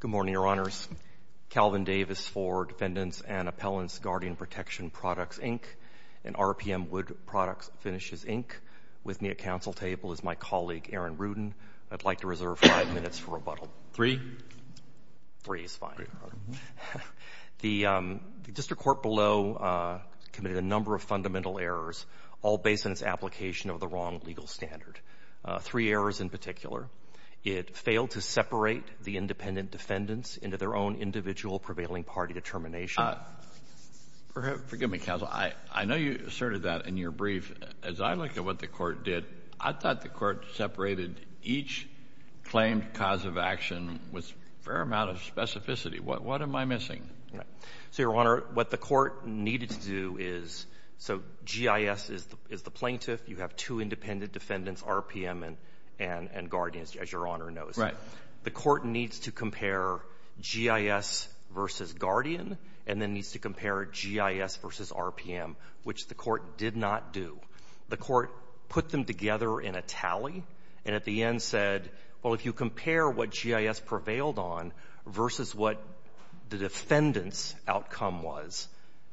Good morning, Your Honors. Calvin Davis for Defendants and Appellants, Guardian Protection Products, Inc. and RPM Wood Products Finishes, Inc. With me at council table is my colleague Aaron Rudin. I'd like to reserve five minutes for rebuttal. Three? Three is fine. The district court below committed a number of fundamental errors, all based on its application of the wrong legal standard. Three errors in particular. It failed to separate the independent defendants into their own individual prevailing party determination. Forgive me, counsel. I know you asserted that in your brief. As I look at what the court did, I thought the court separated each claimed cause of action with a fair amount of specificity. What am I missing? So, Your Honor, what the court needed to do is, so GIS is the plaintiff. You have two independent defendants, RPM and Guardian, as Your Honor knows. The court needs to compare GIS versus Guardian, and then needs to compare GIS versus RPM, which the court did not do. The court put them together in a tally, and at the end said, well, if you compare what GIS prevailed on versus what the defendant's outcome was,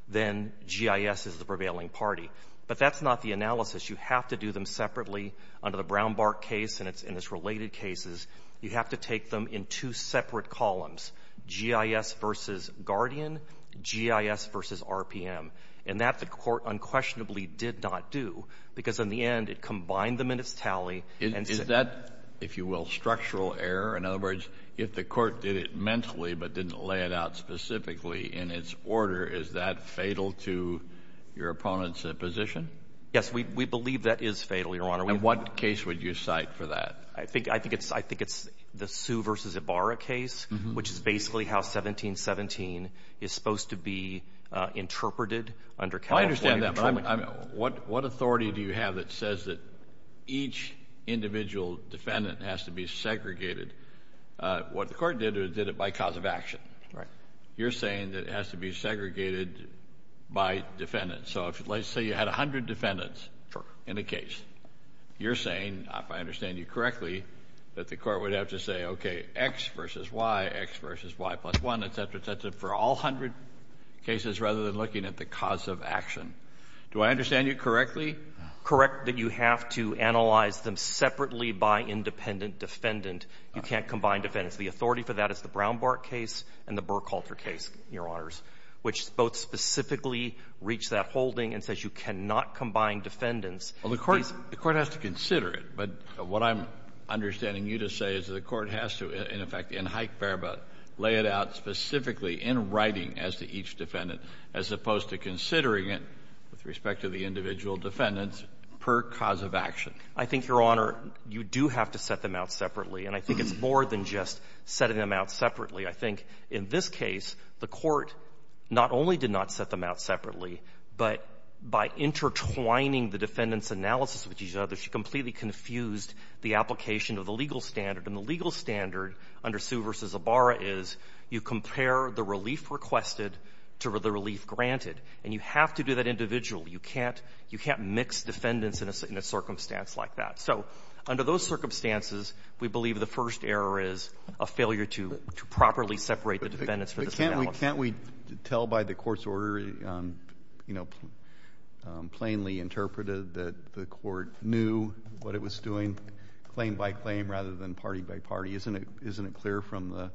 then GIS is the prevailing party. But that's not the analysis. You have to do them separately under the Brown-Bark case and its related cases. You have to take them in two separate columns, GIS versus Guardian, GIS versus RPM. And that, the court unquestionably did not do, because in the end, it combined them in its tally and said — Is that, if you will, structural error? In other words, if the court did it mentally but didn't lay it out specifically in its order, is that fatal to your opponent's position? Yes, we believe that is fatal, Your Honor. And what case would you cite for that? I think it's the Sue v. Ibarra case, which is basically how 1717 is supposed to be interpreted under California — I understand that, but what authority do you have that says that each individual defendant has to be segregated? What the court did, it did it by cause of action. Right. You're saying that it has to be segregated by defendants. So let's say you had 100 defendants in a case. You're saying, if I understand you correctly, that the court would have to say, okay, X versus Y, X versus Y plus 1, et cetera, et cetera, for all 100 cases rather than looking at the cause of action. Do I understand you correctly? Correct that you have to analyze them separately by independent defendant. You can't combine defendants. The authority for that is the Brownbart case and the Burkhalter case, Your Honors, which both specifically reach that holding and says you cannot combine defendants. Well, the court has to consider it. But what I'm understanding you to say is that the court has to, in effect, in Hike-Berba, lay it out specifically in writing as to each defendant, as opposed to considering it with respect to the individual defendants per cause of action. I think, Your Honor, you do have to set them out separately. And I think it's more than just setting them out separately. I think in this case, the court not only did not set them out separately, but by intertwining the defendant's analysis with each other, she completely confused the application of the legal standard. And the legal standard under Sue v. Ibarra is you compare the relief requested to the relief granted. And you have to do that individually. You can't mix defendants in a circumstance like that. So under those circumstances, we believe the first error is a failure to properly separate the defendants for this analysis. Can't we tell by the court's order, you know, plainly interpreted that the court knew what it was doing claim by claim rather than party by party? Isn't it clear from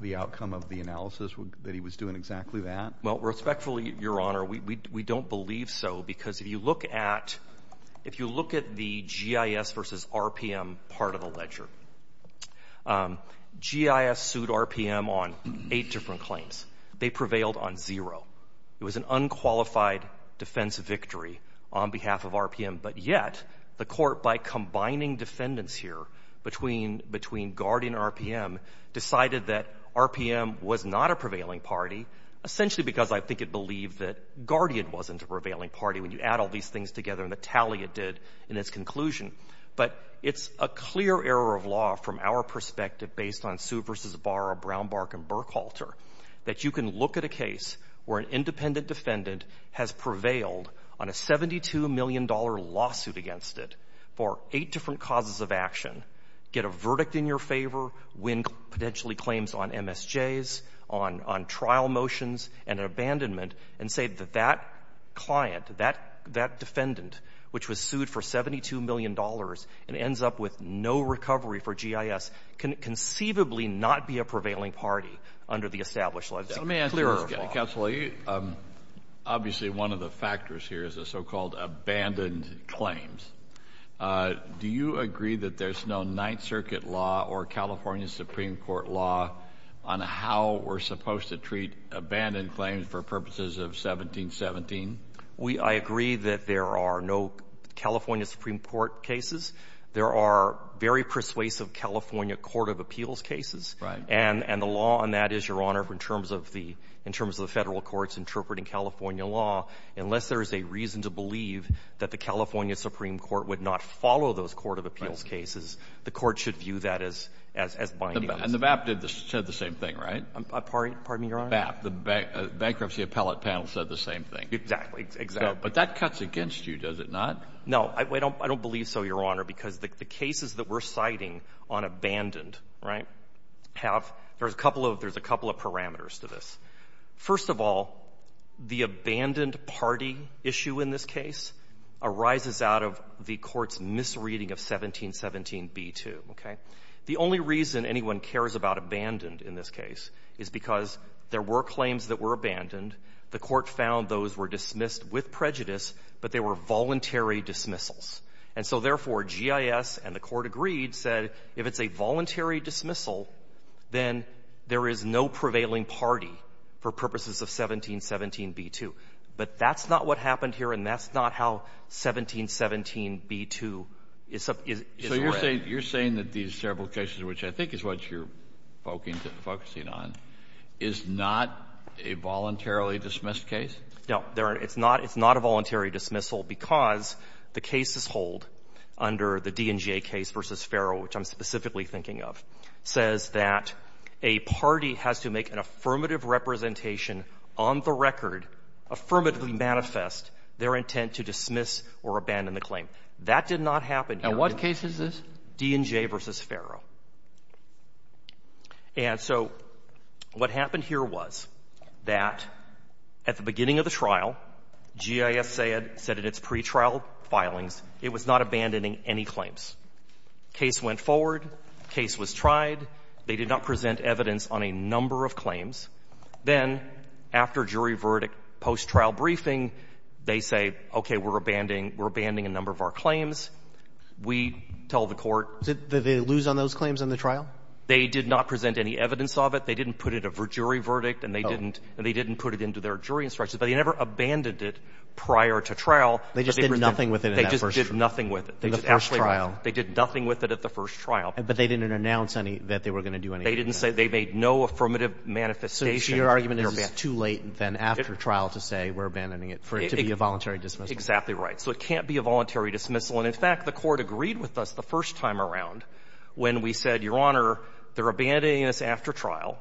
the outcome of the analysis that he was doing exactly that? Well, respectfully, Your Honor, we don't believe so. Because if you look at the GIS versus RPM part of the ledger, GIS sued RPM on eight different claims. They prevailed on zero. It was an unqualified defense victory on behalf of RPM. But yet, the court, by combining defendants here between Guardian and RPM, decided that RPM was not a prevailing party, essentially because I think it believed that Guardian wasn't a prevailing party when you add all these things together and the tally it did in its conclusion. But it's a clear error of law from our perspective based on Sue v. Barra, Brownbark, and Burkhalter that you can look at a case where an independent defendant has prevailed on a $72 million lawsuit against it for eight different causes of action, get a verdict in your favor, win potentially claims on MSJs, on trial motions, and an abandonment, and say that that client, that defendant, which was sued for $72 million and ends up with no recovery for GIS, can conceivably not be a prevailing party under the established law. It's a clear error of law. Let me ask you, Counselor, obviously, one of the factors here is the so-called abandoned claims. Do you agree that there's no Ninth Circuit law or California Supreme Court law on how we're supposed to treat abandoned claims for purposes of 1717? We — I agree that there are no California Supreme Court cases. There are very persuasive California court of appeals cases. Right. And the law on that is, Your Honor, in terms of the — in terms of the Federal courts interpreting California law, unless there is a reason to believe that the California Supreme Court would not follow those court of appeals cases, the court should view that as — as binding. And the BAP did the — said the same thing, right? Pardon me, Your Honor? BAP. The Bankruptcy Appellate Panel said the same thing. Exactly. Exactly. But that cuts against you, does it not? No. I don't believe so, Your Honor, because the cases that we're citing on abandoned, right, have — there's a couple of — there's a couple of parameters to this. First of all, the abandoned party issue in this case arises out of the Court's misreading of 1717b2, okay? The only reason anyone cares about abandoned in this case is because there were claims that were abandoned. The Court found those were dismissed with prejudice, but they were voluntary dismissals. And so, therefore, GIS and the Court agreed, said if it's a voluntary dismissal, then there is no prevailing party for purposes of 1717b2. But that's not what happened here, and that's not how 1717b2 is — is — is — So you're saying — you're saying that these several cases, which I think is what you're focusing on, is not a voluntarily dismissed case? No. There are — it's not — it's not a voluntary dismissal because the cases hold under the D&J case v. Ferro, which I'm specifically thinking of, says that a party has to make an affirmative representation on the record, affirmatively manifest their intent to dismiss or abandon the claim. That did not happen here. And what case is this? D&J v. Ferro. And so what happened here was that at the beginning of the trial, GIS said in its pretrial filings it was not abandoning any claims. Case went forward. Case was tried. They did not present evidence on a number of claims. Then, after jury verdict, post-trial briefing, they say, okay, we're abandoning — we're abandoning a number of our claims. We tell the court — Did they lose on those claims in the trial? They did not present any evidence of it. They didn't put it in a jury verdict. And they didn't — and they didn't put it into their jury instructions. But they never abandoned it prior to trial. They just did nothing with it in that first trial. They just did nothing with it. In the first trial. They did nothing with it at the first trial. But they didn't announce any — that they were going to do anything. They didn't say — they made no affirmative manifestation. So your argument is it's too late then after trial to say we're abandoning it for it to be a voluntary dismissal. Exactly right. So it can't be a voluntary dismissal. And, in fact, the court agreed with us the first time around when we said, Your Honor, they're abandoning us after trial.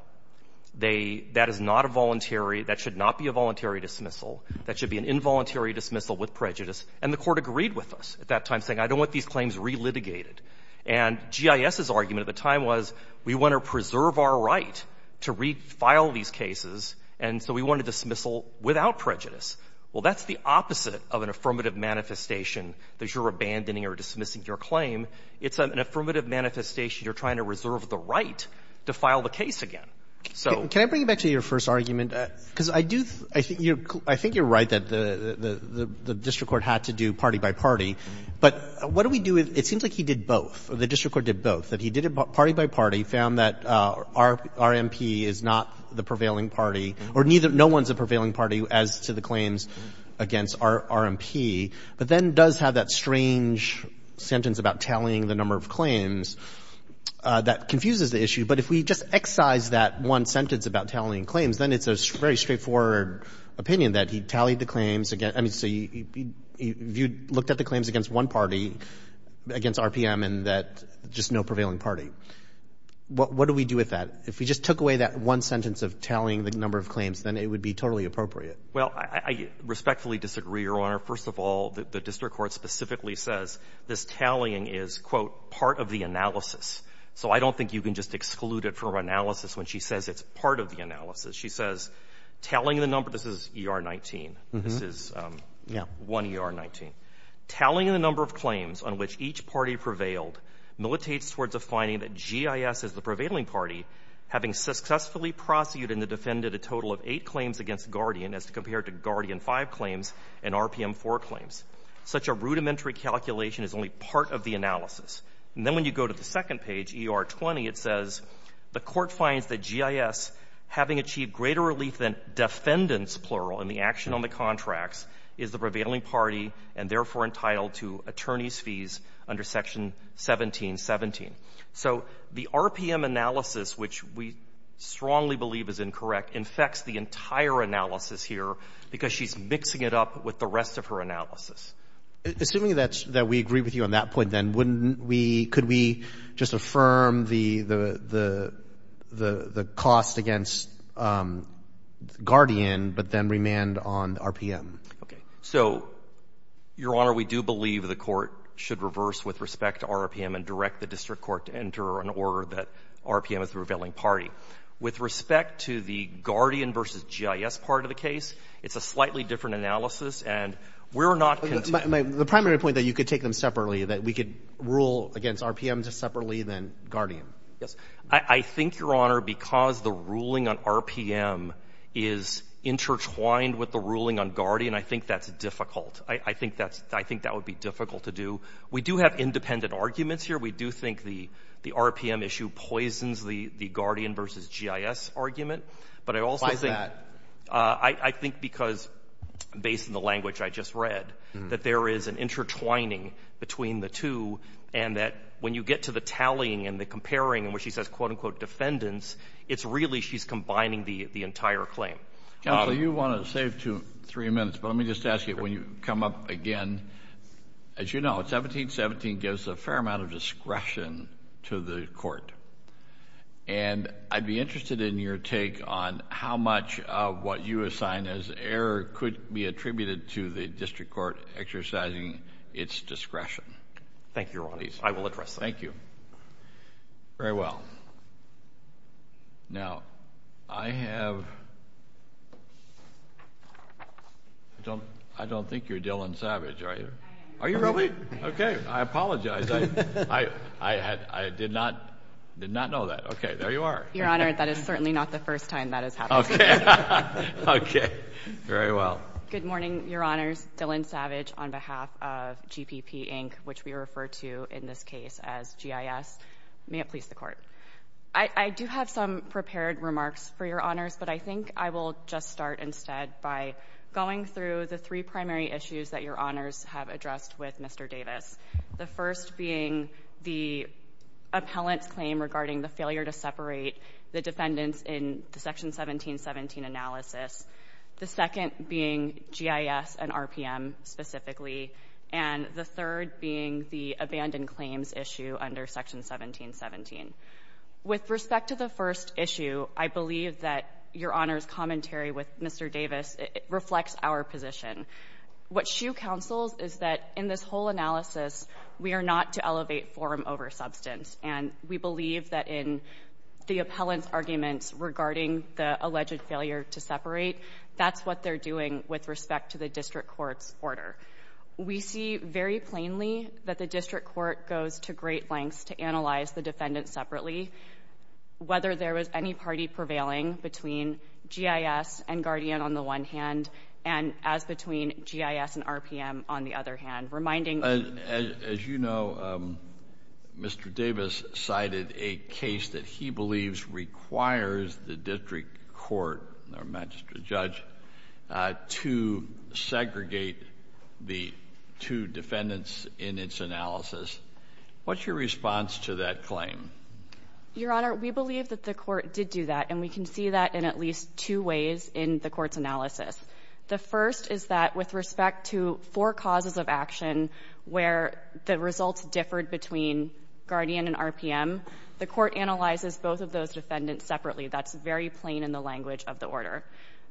They — that is not a voluntary — that should not be a voluntary dismissal. That should be an involuntary dismissal with prejudice. And the court agreed with us at that time, saying I don't want these claims re-litigated. And GIS's argument at the time was we want to preserve our right to refile these cases. And so we want a dismissal without prejudice. Well, that's the opposite of an affirmative manifestation, that you're abandoning or dismissing your claim. It's an affirmative manifestation. You're trying to reserve the right to file the case again. So — Can I bring you back to your first argument? Because I do — I think you're — I think you're right that the — the district court had to do party by party. But what do we do if — it seems like he did both, or the district court did both, that he did it party by party, found that RMP is not the prevailing party, or neither — no one's a prevailing party as to the claims against RMP, but then does have that strange sentence about tallying the number of claims that confuses the issue. But if we just excise that one sentence about tallying claims, then it's a very straightforward opinion that he tallied the claims against — I mean, so you — you looked at the claims against one party, against RPM, and that — just no prevailing party. What do we do with that? If we just took away that one sentence of tallying the number of claims, then it would be totally appropriate. Well, I respectfully disagree, Your Honor. First of all, the district court specifically says this tallying is, quote, part of the analysis. So I don't think you can just exclude it from analysis when she says it's part of the analysis. She says, tallying the number — this is ER-19. This is — One ER-19. Tallying the number of claims on which each party prevailed militates towards a finding that GIS is the prevailing party, having successfully prosecuted and defended a total of eight claims against Guardian as compared to Guardian-5 claims and RPM-4 claims. Such a rudimentary calculation is only part of the analysis. And then when you go to the second page, ER-20, it says the court finds that GIS, having achieved greater relief than defendants, plural, in the action on the contracts, is the prevailing party and therefore entitled to attorney's fees under Section 1717. So the RPM analysis, which we strongly believe is incorrect, infects the entire analysis here because she's mixing it up with the rest of her analysis. Assuming that we agree with you on that point, then, wouldn't we — could we just affirm the cost against Guardian but then remand on RPM? Okay. So, Your Honor, we do believe the court should reverse with respect to RPM and direct the district court to enter an order that RPM is the prevailing party. With respect to the Guardian versus GIS part of the case, it's a slightly different analysis and we're not — But the primary point that you could take them separately, that we could rule against RPM just separately than Guardian. Yes. I think, Your Honor, because the ruling on RPM is intertwined with the ruling on Guardian, I think that's difficult. I think that's — I think that would be difficult to do. We do have independent arguments here. We do think the RPM issue poisons the Guardian versus GIS argument. But I also think — I think because, based on the language I just read, that there is an intertwining between the two and that when you get to the tallying and the comparing in which she says, quote-unquote, defendants, it's really she's combining the entire claim. Counsel, you wanted to save three minutes, but let me just ask you, when you come up again, as you know, 1717 gives a fair amount of discretion to the court. And I'd be interested in your take on how much of what you assign as error could be attributed to the district court exercising its discretion. Thank you, Your Honor. I will address that. Thank you. Very well. Now, I have — I don't think you're Dylan Savage, are you? I am. Are you really? Okay. I apologize. I did not know that. Okay. There you are. Your Honor, that is certainly not the first time that has happened to me. Okay. Okay. Very well. Good morning, Your Honors. Dylan Savage on behalf of GPP, Inc., which we refer to in this case as GIS. May it please the Court. I do have some prepared remarks for Your Honors, but I think I will just start instead by going through the three primary issues that Your Honors have addressed with Mr. Davis, the first being the appellant's claim regarding the failure to separate the defendants in the Section 1717 analysis, the second being GIS and RPM specifically, and the third being the abandoned claims issue under Section 1717. With respect to the first issue, I believe that Your Honors' commentary with Mr. Davis reflects our position. What she counsels is that in this whole analysis, we are not to elevate forum over substance, and we believe that in the appellant's arguments regarding the alleged failure to separate, that's what they're doing with respect to the district court's order. We see very plainly that the district court goes to great lengths to analyze the defendants separately, whether there was any party prevailing between GIS and Guardian on the one hand and as between GIS and RPM on the other hand, reminding— As you know, Mr. Davis cited a case that he believes requires the district court or magistrate judge to segregate the two defendants in its analysis. What's your response to that claim? Your Honor, we believe that the court did do that, and we can see that in at least two ways in the court's analysis. The first is that with respect to four causes of action where the results differed between Guardian and RPM, the court analyzes both of those defendants separately. That's very plain in the language of the order.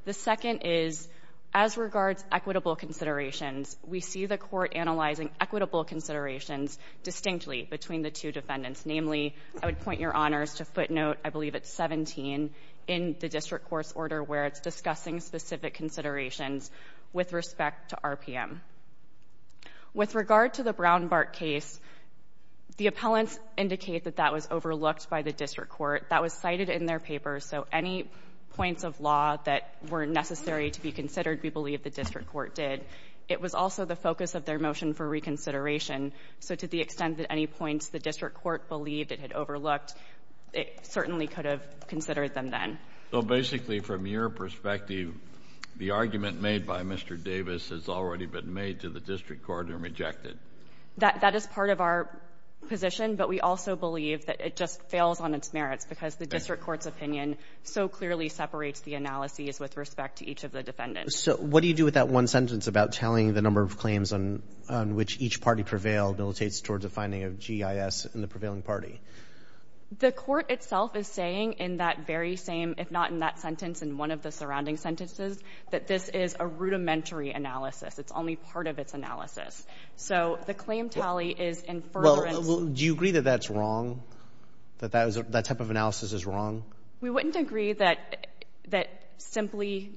The second is, as regards equitable considerations, we see the court analyzing equitable considerations distinctly between the two defendants. Namely, I would point your Honors to footnote, I believe it's 17 in the district court's order where it's discussing specific considerations with respect to RPM. With regard to the Brown-Bark case, the appellants indicate that that was overlooked by the district court. That was cited in their papers. So any points of law that were necessary to be considered, we believe the district court did. It was also the focus of their motion for reconsideration. So to the extent that any points the district court believed it had overlooked, it certainly could have considered them then. So basically, from your perspective, the argument made by Mr. Davis has already been made to the district court and rejected? That is part of our position, but we also believe that it just fails on its merits because the district court's opinion so clearly separates the analyses with respect to each of the defendants. So what do you do with that one sentence about telling the number of claims on which each party prevailed, militates towards a finding of GIS in the prevailing party? The court itself is saying in that very same, if not in that sentence, in one of the surrounding sentences, that this is a rudimentary analysis. It's only part of its analysis. So the claim tally is in furtherance. Well, do you agree that that's wrong, that that type of analysis is wrong? We wouldn't agree that simply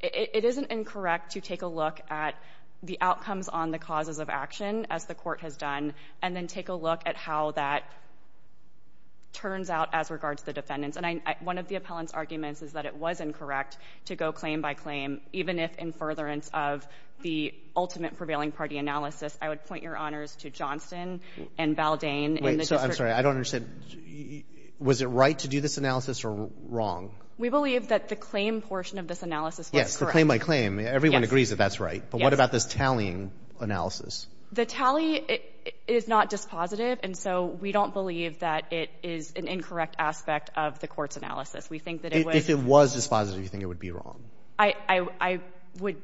it isn't incorrect to take a look at the outcomes on the causes of action, as the court has done, and then take a look at how that turns out as regards to the defendants. And one of the appellant's arguments is that it was incorrect to go claim by claim, even if in furtherance of the ultimate prevailing party analysis. I would point your honors to Johnston and Baldain and the district court. So I'm sorry. I don't understand. Was it right to do this analysis or wrong? We believe that the claim portion of this analysis was correct. Yes. The claim by claim. Yes. Everyone agrees that that's right. Yes. But what about this tallying analysis? The tally is not dispositive, and so we don't believe that it is an incorrect aspect of the court's analysis. We think that it was... If it was dispositive, you think it would be wrong? I would...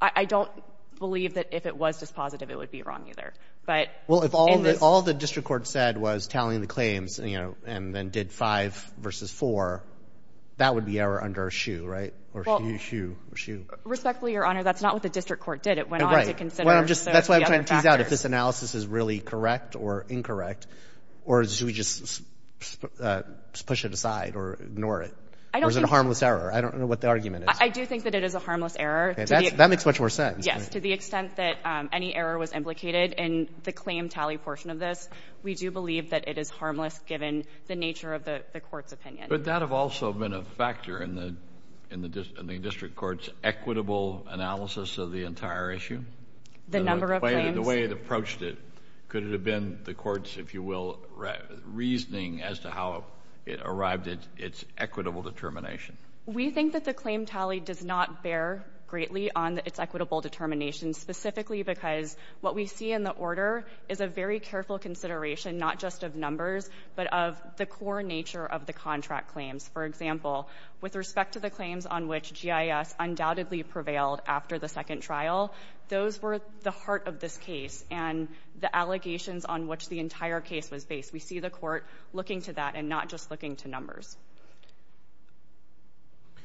I don't believe that if it was dispositive, it would be wrong either. But in this... Well, if all the district court said was tallying the claims, you know, and then did five versus four, that would be error under a shoe, right? Well... Or shoe, shoe, shoe. Respectfully, your honor, that's not what the district court did. It went on to consider... Well, I'm just... That's why I'm trying to tease out if this analysis is really correct or incorrect, or should we just push it aside or ignore it? I don't think... I don't think it's an error. I don't know what the argument is. I do think that it is a harmless error. Okay. That makes much more sense. Yes. To the extent that any error was implicated in the claim tally portion of this, we do believe that it is harmless given the nature of the court's opinion. But that have also been a factor in the district court's equitable analysis of the entire issue? The number of claims? The way it approached it. Could it have been the court's, if you will, reasoning as to how it arrived at its equitable determination? We think that the claim tally does not bear greatly on its equitable determination, specifically because what we see in the order is a very careful consideration, not just of numbers, but of the core nature of the contract claims. For example, with respect to the claims on which GIS undoubtedly prevailed after the second trial, those were the heart of this case, and the allegations on which the entire case was based. We see the court looking to that and not just looking to numbers.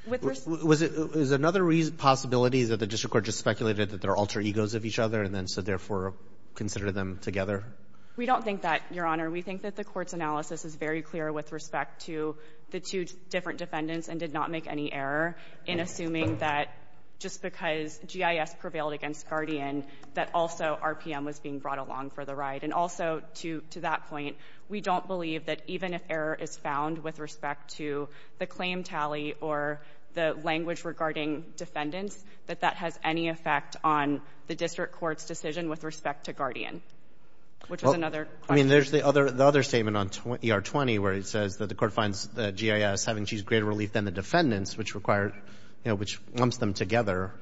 Was it another possibility that the district court just speculated that there are alter egos of each other, and then so therefore consider them together? We don't think that, Your Honor. We think that the court's analysis is very clear with respect to the two different defendants and did not make any error in assuming that just because GIS prevailed against Guardian, that also RPM was being brought along for the ride. And also, to that point, we don't believe that even if error is found with respect to the claim tally or the language regarding defendants, that that has any effect on the district court's decision with respect to Guardian, which was another question. I mean, there's the other statement on ER-20 where it says that the court finds that GIS having achieved greater relief than the defendants, which lumps them together,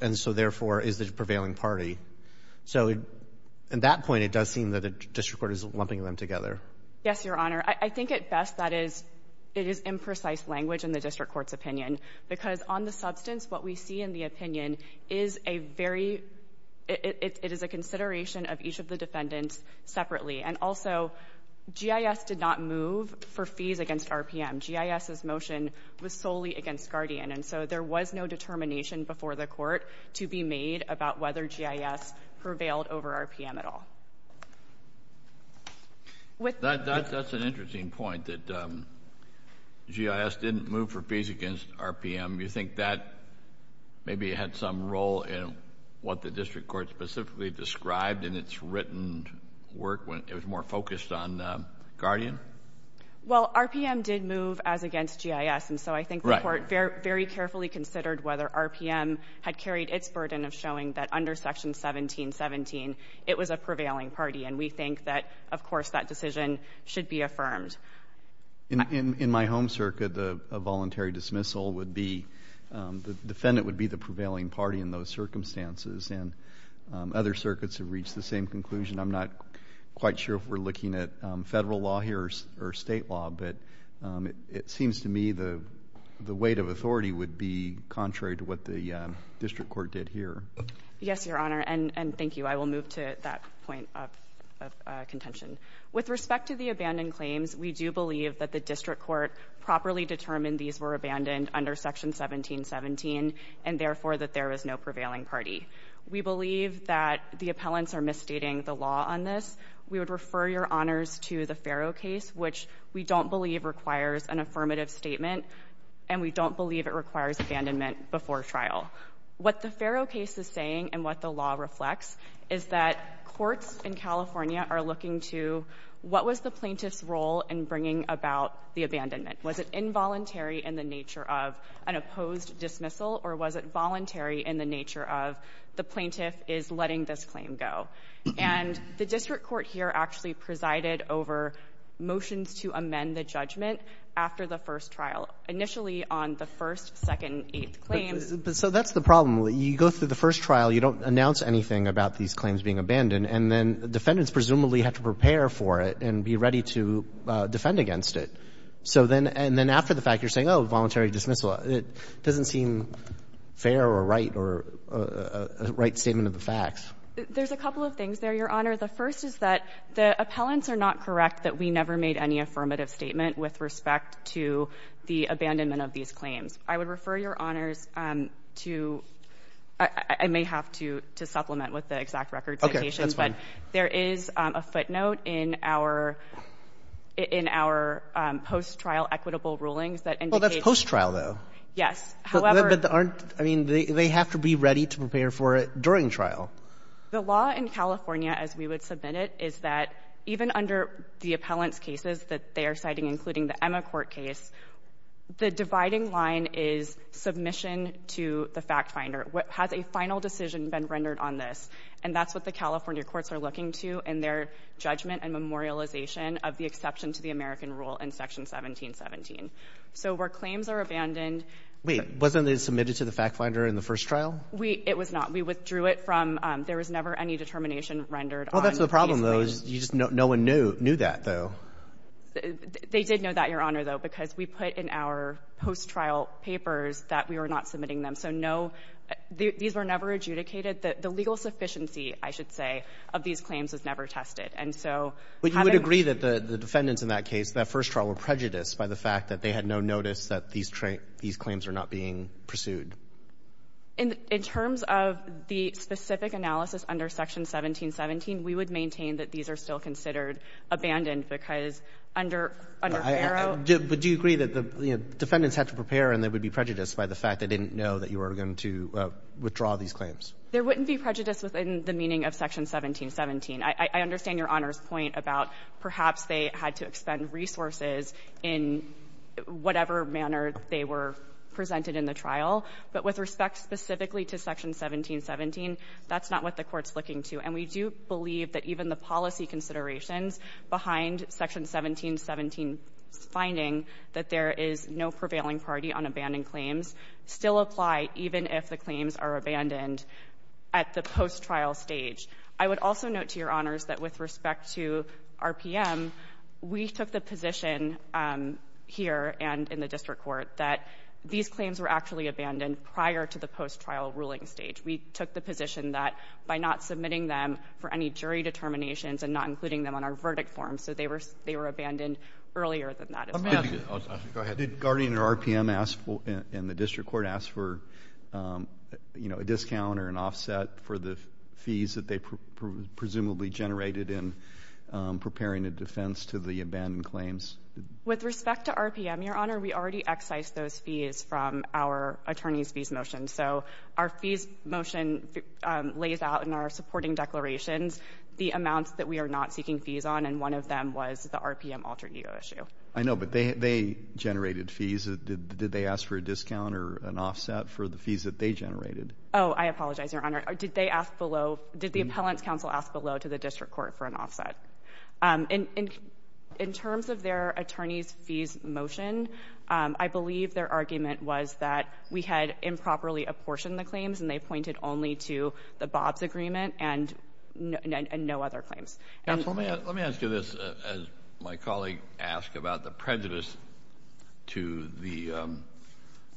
and so therefore is the prevailing party. So at that point, it does seem that the district court is lumping them together. Yes, Your Honor. I think at best that it is imprecise language in the district court's opinion because on the substance, what we see in the opinion is a very — it is a consideration of each of the defendants separately. And also, GIS did not move for fees against RPM. GIS's motion was solely against Guardian, and so there was no determination before the to be made about whether GIS prevailed over RPM at all. That's an interesting point, that GIS didn't move for fees against RPM. You think that maybe had some role in what the district court specifically described in its written work when it was more focused on Guardian? Well, RPM did move as against GIS, and so I think the court very carefully considered whether RPM had carried its burden of showing that under Section 1717, it was a prevailing party. And we think that, of course, that decision should be affirmed. In my home circuit, a voluntary dismissal would be — the defendant would be the prevailing party in those circumstances, and other circuits have reached the same conclusion. I'm not quite sure if we're looking at federal law here or state law, but it seems to me the weight of authority would be contrary to what the district court did here. Yes, Your Honor, and thank you. I will move to that point of contention. With respect to the abandoned claims, we do believe that the district court properly determined these were abandoned under Section 1717, and therefore that there was no prevailing party. We believe that the appellants are misstating the law on this. We would refer your honors to the Farrow case, which we don't believe requires an affirmative statement, and we don't believe it requires abandonment before trial. What the Farrow case is saying and what the law reflects is that courts in California are looking to what was the plaintiff's role in bringing about the abandonment. Was it involuntary in the nature of an opposed dismissal, or was it voluntary in the nature of the plaintiff is letting this claim go? And the district court here actually presided over motions to amend the judgment after the first trial, initially on the first, second, eighth claims. But so that's the problem. You go through the first trial, you don't announce anything about these claims being abandoned, and then defendants presumably have to prepare for it and be ready to defend against it. So then — and then after the fact, you're saying, oh, voluntary dismissal. It doesn't seem fair or right or a right statement of the facts. There's a couple of things there, Your Honor. The first is that the appellants are not correct that we never made any affirmative statement with respect to the abandonment of these claims. I would refer Your Honors to — I may have to supplement with the exact record citations, but there is a footnote in our — in our post-trial equitable rulings that indicates — Well, that's post-trial, though. Yes. However — But aren't — I mean, they have to be ready to prepare for it during trial. The law in California, as we would submit it, is that even under the appellant's cases that they are citing, including the Emma court case, the dividing line is submission to the fact-finder. Has a final decision been rendered on this? And that's what the California courts are looking to in their judgment and memorialization of the exception to the American rule in Section 1717. So where claims are abandoned — Wasn't it submitted to the fact-finder in the first trial? We — it was not. We withdrew it from — there was never any determination rendered on these claims. Well, that's the problem, though. You just — no one knew that, though. They did know that, Your Honor, though, because we put in our post-trial papers that we were not submitting them. So no — these were never adjudicated. The legal sufficiency, I should say, of these claims was never tested. And so having — But you would agree that the defendants in that case, that first trial, were prejudiced by the fact that they had no notice that these claims are not being pursued. In terms of the specific analysis under Section 1717, we would maintain that these claims are still considered abandoned because under Barrow — But do you agree that the defendants had to prepare and they would be prejudiced by the fact they didn't know that you were going to withdraw these claims? There wouldn't be prejudice within the meaning of Section 1717. I understand Your Honor's point about perhaps they had to expend resources in whatever manner they were presented in the trial. But with respect specifically to Section 1717, that's not what the Court's looking to. And we do believe that even the policy considerations behind Section 1717's finding that there is no prevailing priority on abandoned claims still apply even if the claims are abandoned at the post-trial stage. I would also note to Your Honors that with respect to RPM, we took the position here and in the district court that these claims were actually abandoned prior to the post-trial ruling stage. We took the position that by not submitting them for any jury determinations and not including them on our verdict form, so they were abandoned earlier than that. I'm going to ask, did Guardian or RPM ask and the district court ask for, you know, a discount or an offset for the fees that they presumably generated in preparing a defense to the abandoned claims? With respect to RPM, Your Honor, we already excised those fees from our attorney's fees motion. So our fees motion lays out in our supporting declarations the amounts that we are not seeking fees on. And one of them was the RPM alter ego issue. I know, but they generated fees. Did they ask for a discount or an offset for the fees that they generated? Oh, I apologize, Your Honor. Did they ask below, did the appellant's counsel ask below to the district court for an offset? And in terms of their attorney's fees motion, I believe their argument was that we had improperly apportioned the claims and they pointed only to the Bob's agreement and no other claims. And let me ask you this, as my colleague asked about the prejudice to the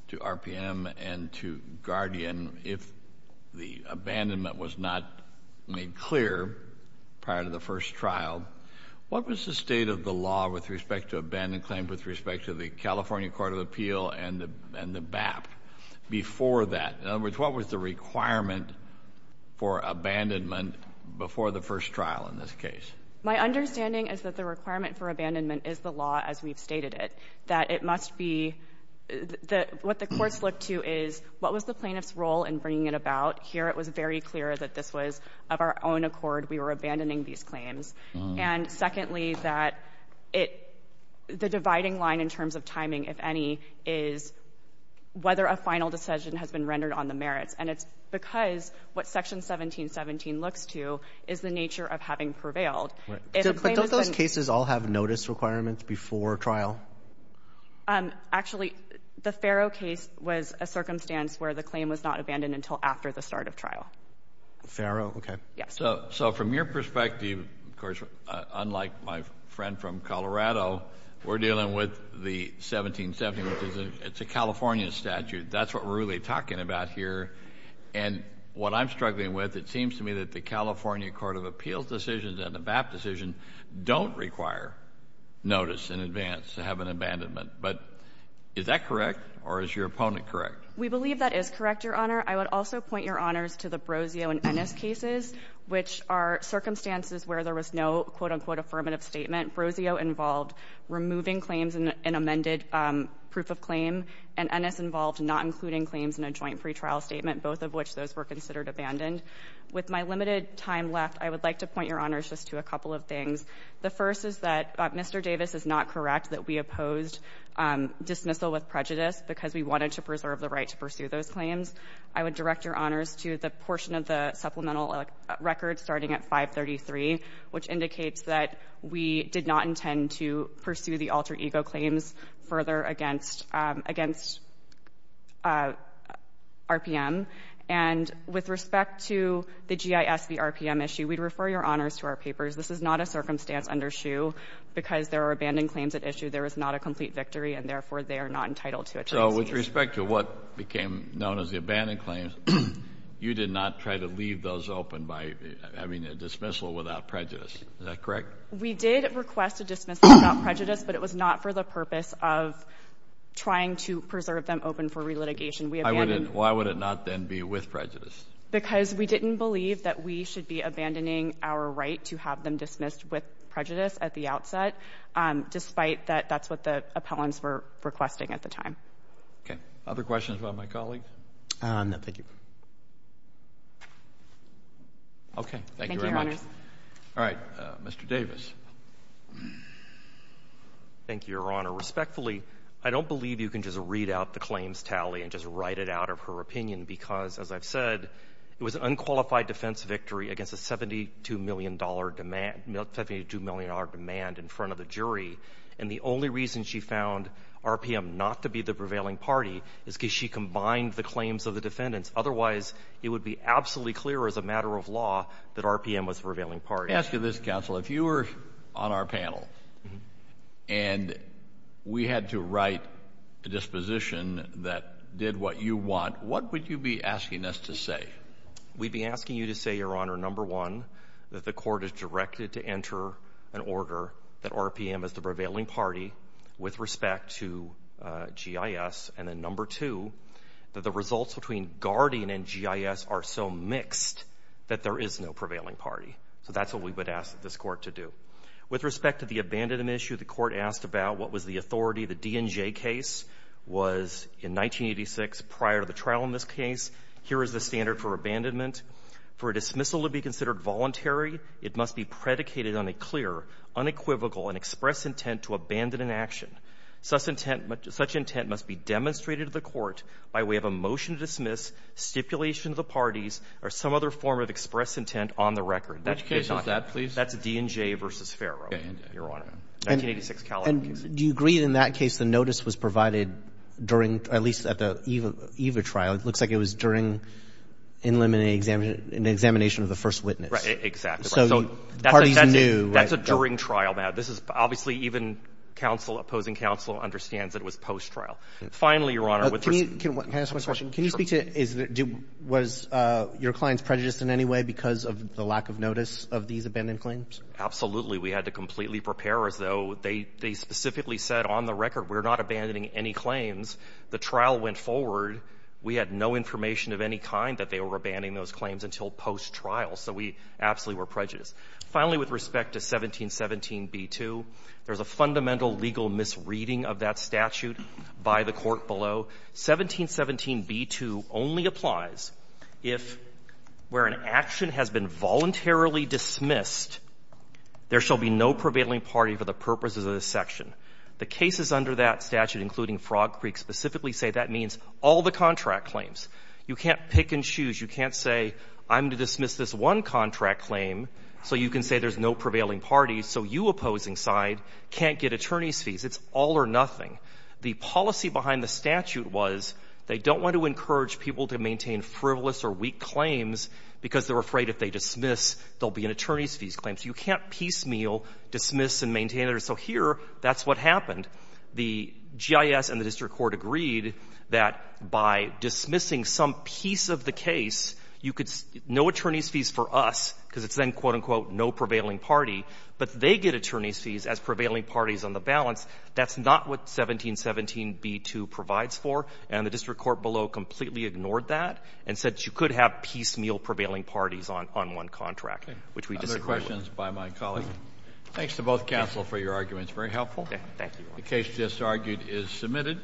to RPM and to Guardian, if the abandonment was not made clear prior to the first trial, what was the state of the law with respect to abandoned claim, with respect to the California Court of Appeal and the BAP? Before that, in other words, what was the requirement for abandonment before the first trial in this case? My understanding is that the requirement for abandonment is the law as we've stated it, that it must be that what the courts look to is what was the plaintiff's role in bringing it about here? It was very clear that this was of our own accord. We were abandoning these claims. And secondly, that it the dividing line in terms of timing, if any, is whether a final decision has been rendered on the merits. And it's because what Section 1717 looks to is the nature of having prevailed. But don't those cases all have notice requirements before trial? Actually, the Farrow case was a circumstance where the claim was not abandoned until after the start of trial. Farrow. OK. Yes. So from your perspective, of course, unlike my friend from Colorado, we're dealing with the 1717, which is a California statute. That's what we're really talking about here. And what I'm struggling with, it seems to me that the California Court of Appeals decision and the BAP decision don't require notice in advance to have an abandonment. But is that correct or is your opponent correct? We believe that is correct, Your Honor. I would also point Your Honors to the Brozio and Ennis cases, which are circumstances where there was no, quote, unquote, affirmative statement. Brozio involved removing claims in an amended proof of claim. And Ennis involved not including claims in a joint pretrial statement, both of which those were considered abandoned. With my limited time left, I would like to point Your Honors just to a couple of things. The first is that Mr. Davis is not correct that we opposed dismissal with prejudice because we wanted to preserve the right to pursue those claims. I would direct Your Honors to the portion of the supplemental record starting at 533, which indicates that we did not intend to pursue the alter ego claims further against RPM. And with respect to the GIS v. RPM issue, we'd refer Your Honors to our papers. This is not a circumstance under SHU because there are abandoned claims at issue. There is not a complete victory, and therefore, they are not entitled to attorneys. So with respect to what became known as the abandoned claims, you did not try to leave those open by having a dismissal without prejudice. Is that correct? We did request a dismissal without prejudice, but it was not for the purpose of trying to preserve them open for relitigation. Why would it not then be with prejudice? Because we didn't believe that we should be abandoning our right to have them dismissed with prejudice at the outset, despite that that's what the appellants were requesting at the time. Okay. Other questions about my colleague? No, thank you. Okay. Thank you, Your Honors. All right. Mr. Davis. Thank you, Your Honor. Respectfully, I don't believe you can just read out the claims tally and just write it out of her opinion because, as I've said, it was an unqualified defense victory against a $72 million demand, $72 million demand in front of the jury. And the only reason she found RPM not to be the prevailing party is because she combined the claims of the defendants. Otherwise, it would be absolutely clear as a matter of law that RPM was the prevailing party. Let me ask you this, counsel. If you were on our panel and we had to write a disposition that did what you want, what would you be asking us to say? We'd be asking you to say, Your Honor, number one, that the court is directed to enter an order that RPM is the prevailing party with respect to GIS, and then number two, that the results between Guardian and GIS are so mixed that there is no prevailing party. So that's what we would ask this court to do. With respect to the abandonment issue, the court asked about what was the authority of the DNJ case was in 1986 prior to the trial in this case. Here is the standard for abandonment. For a dismissal to be considered voluntary, it must be predicated on a clear, unequivocal, and express intent to abandon an action. Such intent must be demonstrated to the court by way of a motion to dismiss, stipulation to the parties, or some other form of express intent on the record. Which case is that, please? That's DNJ v. Farrow, Your Honor, 1986 California case. And do you agree in that case the notice was provided during, at least at the EVA trial? It looks like it was during an examination of the first witness. Right, exactly. So the parties knew. That's a during trial, Matt. This is obviously even opposing counsel understands that it was post-trial. Finally, Your Honor. Can I ask one question? Can you speak to, was your clients prejudiced in any way because of the lack of notice of these abandoned claims? Absolutely. We had to completely prepare as though they specifically said on the record, we're not abandoning any claims. The trial went forward. We had no information of any kind that they were abandoning those claims until post-trial. So we absolutely were prejudiced. Finally, with respect to 1717b2, there's a fundamental legal misreading of that statute by the court below. 1717b2 only applies if, where an action has been voluntarily dismissed, there shall be no prevailing party for the purposes of this section. The cases under that statute, including Frog Creek, specifically say that means all the contract claims. You can't pick and choose. You can't say, I'm to dismiss this one contract claim. So you can say there's no prevailing parties. So you opposing side can't get attorney's fees. It's all or nothing. The policy behind the statute was they don't want to encourage people to maintain frivolous or weak claims because they're afraid if they dismiss, there'll be an attorney's fees claims. You can't piecemeal dismiss and maintain it. So here, that's what happened. The GIS and the district court agreed that by dismissing some piece of the case, you could no attorney's fees for us because it's then, quote, unquote, no prevailing party. But they get attorney's fees as prevailing parties on the balance. That's not what 1717b2 provides for. And the district court below completely ignored that and said you could have piecemeal prevailing parties on one contract, which we disagree with. Questions by my colleague. Thanks to both counsel for your arguments. Very helpful. The case just argued is submitted.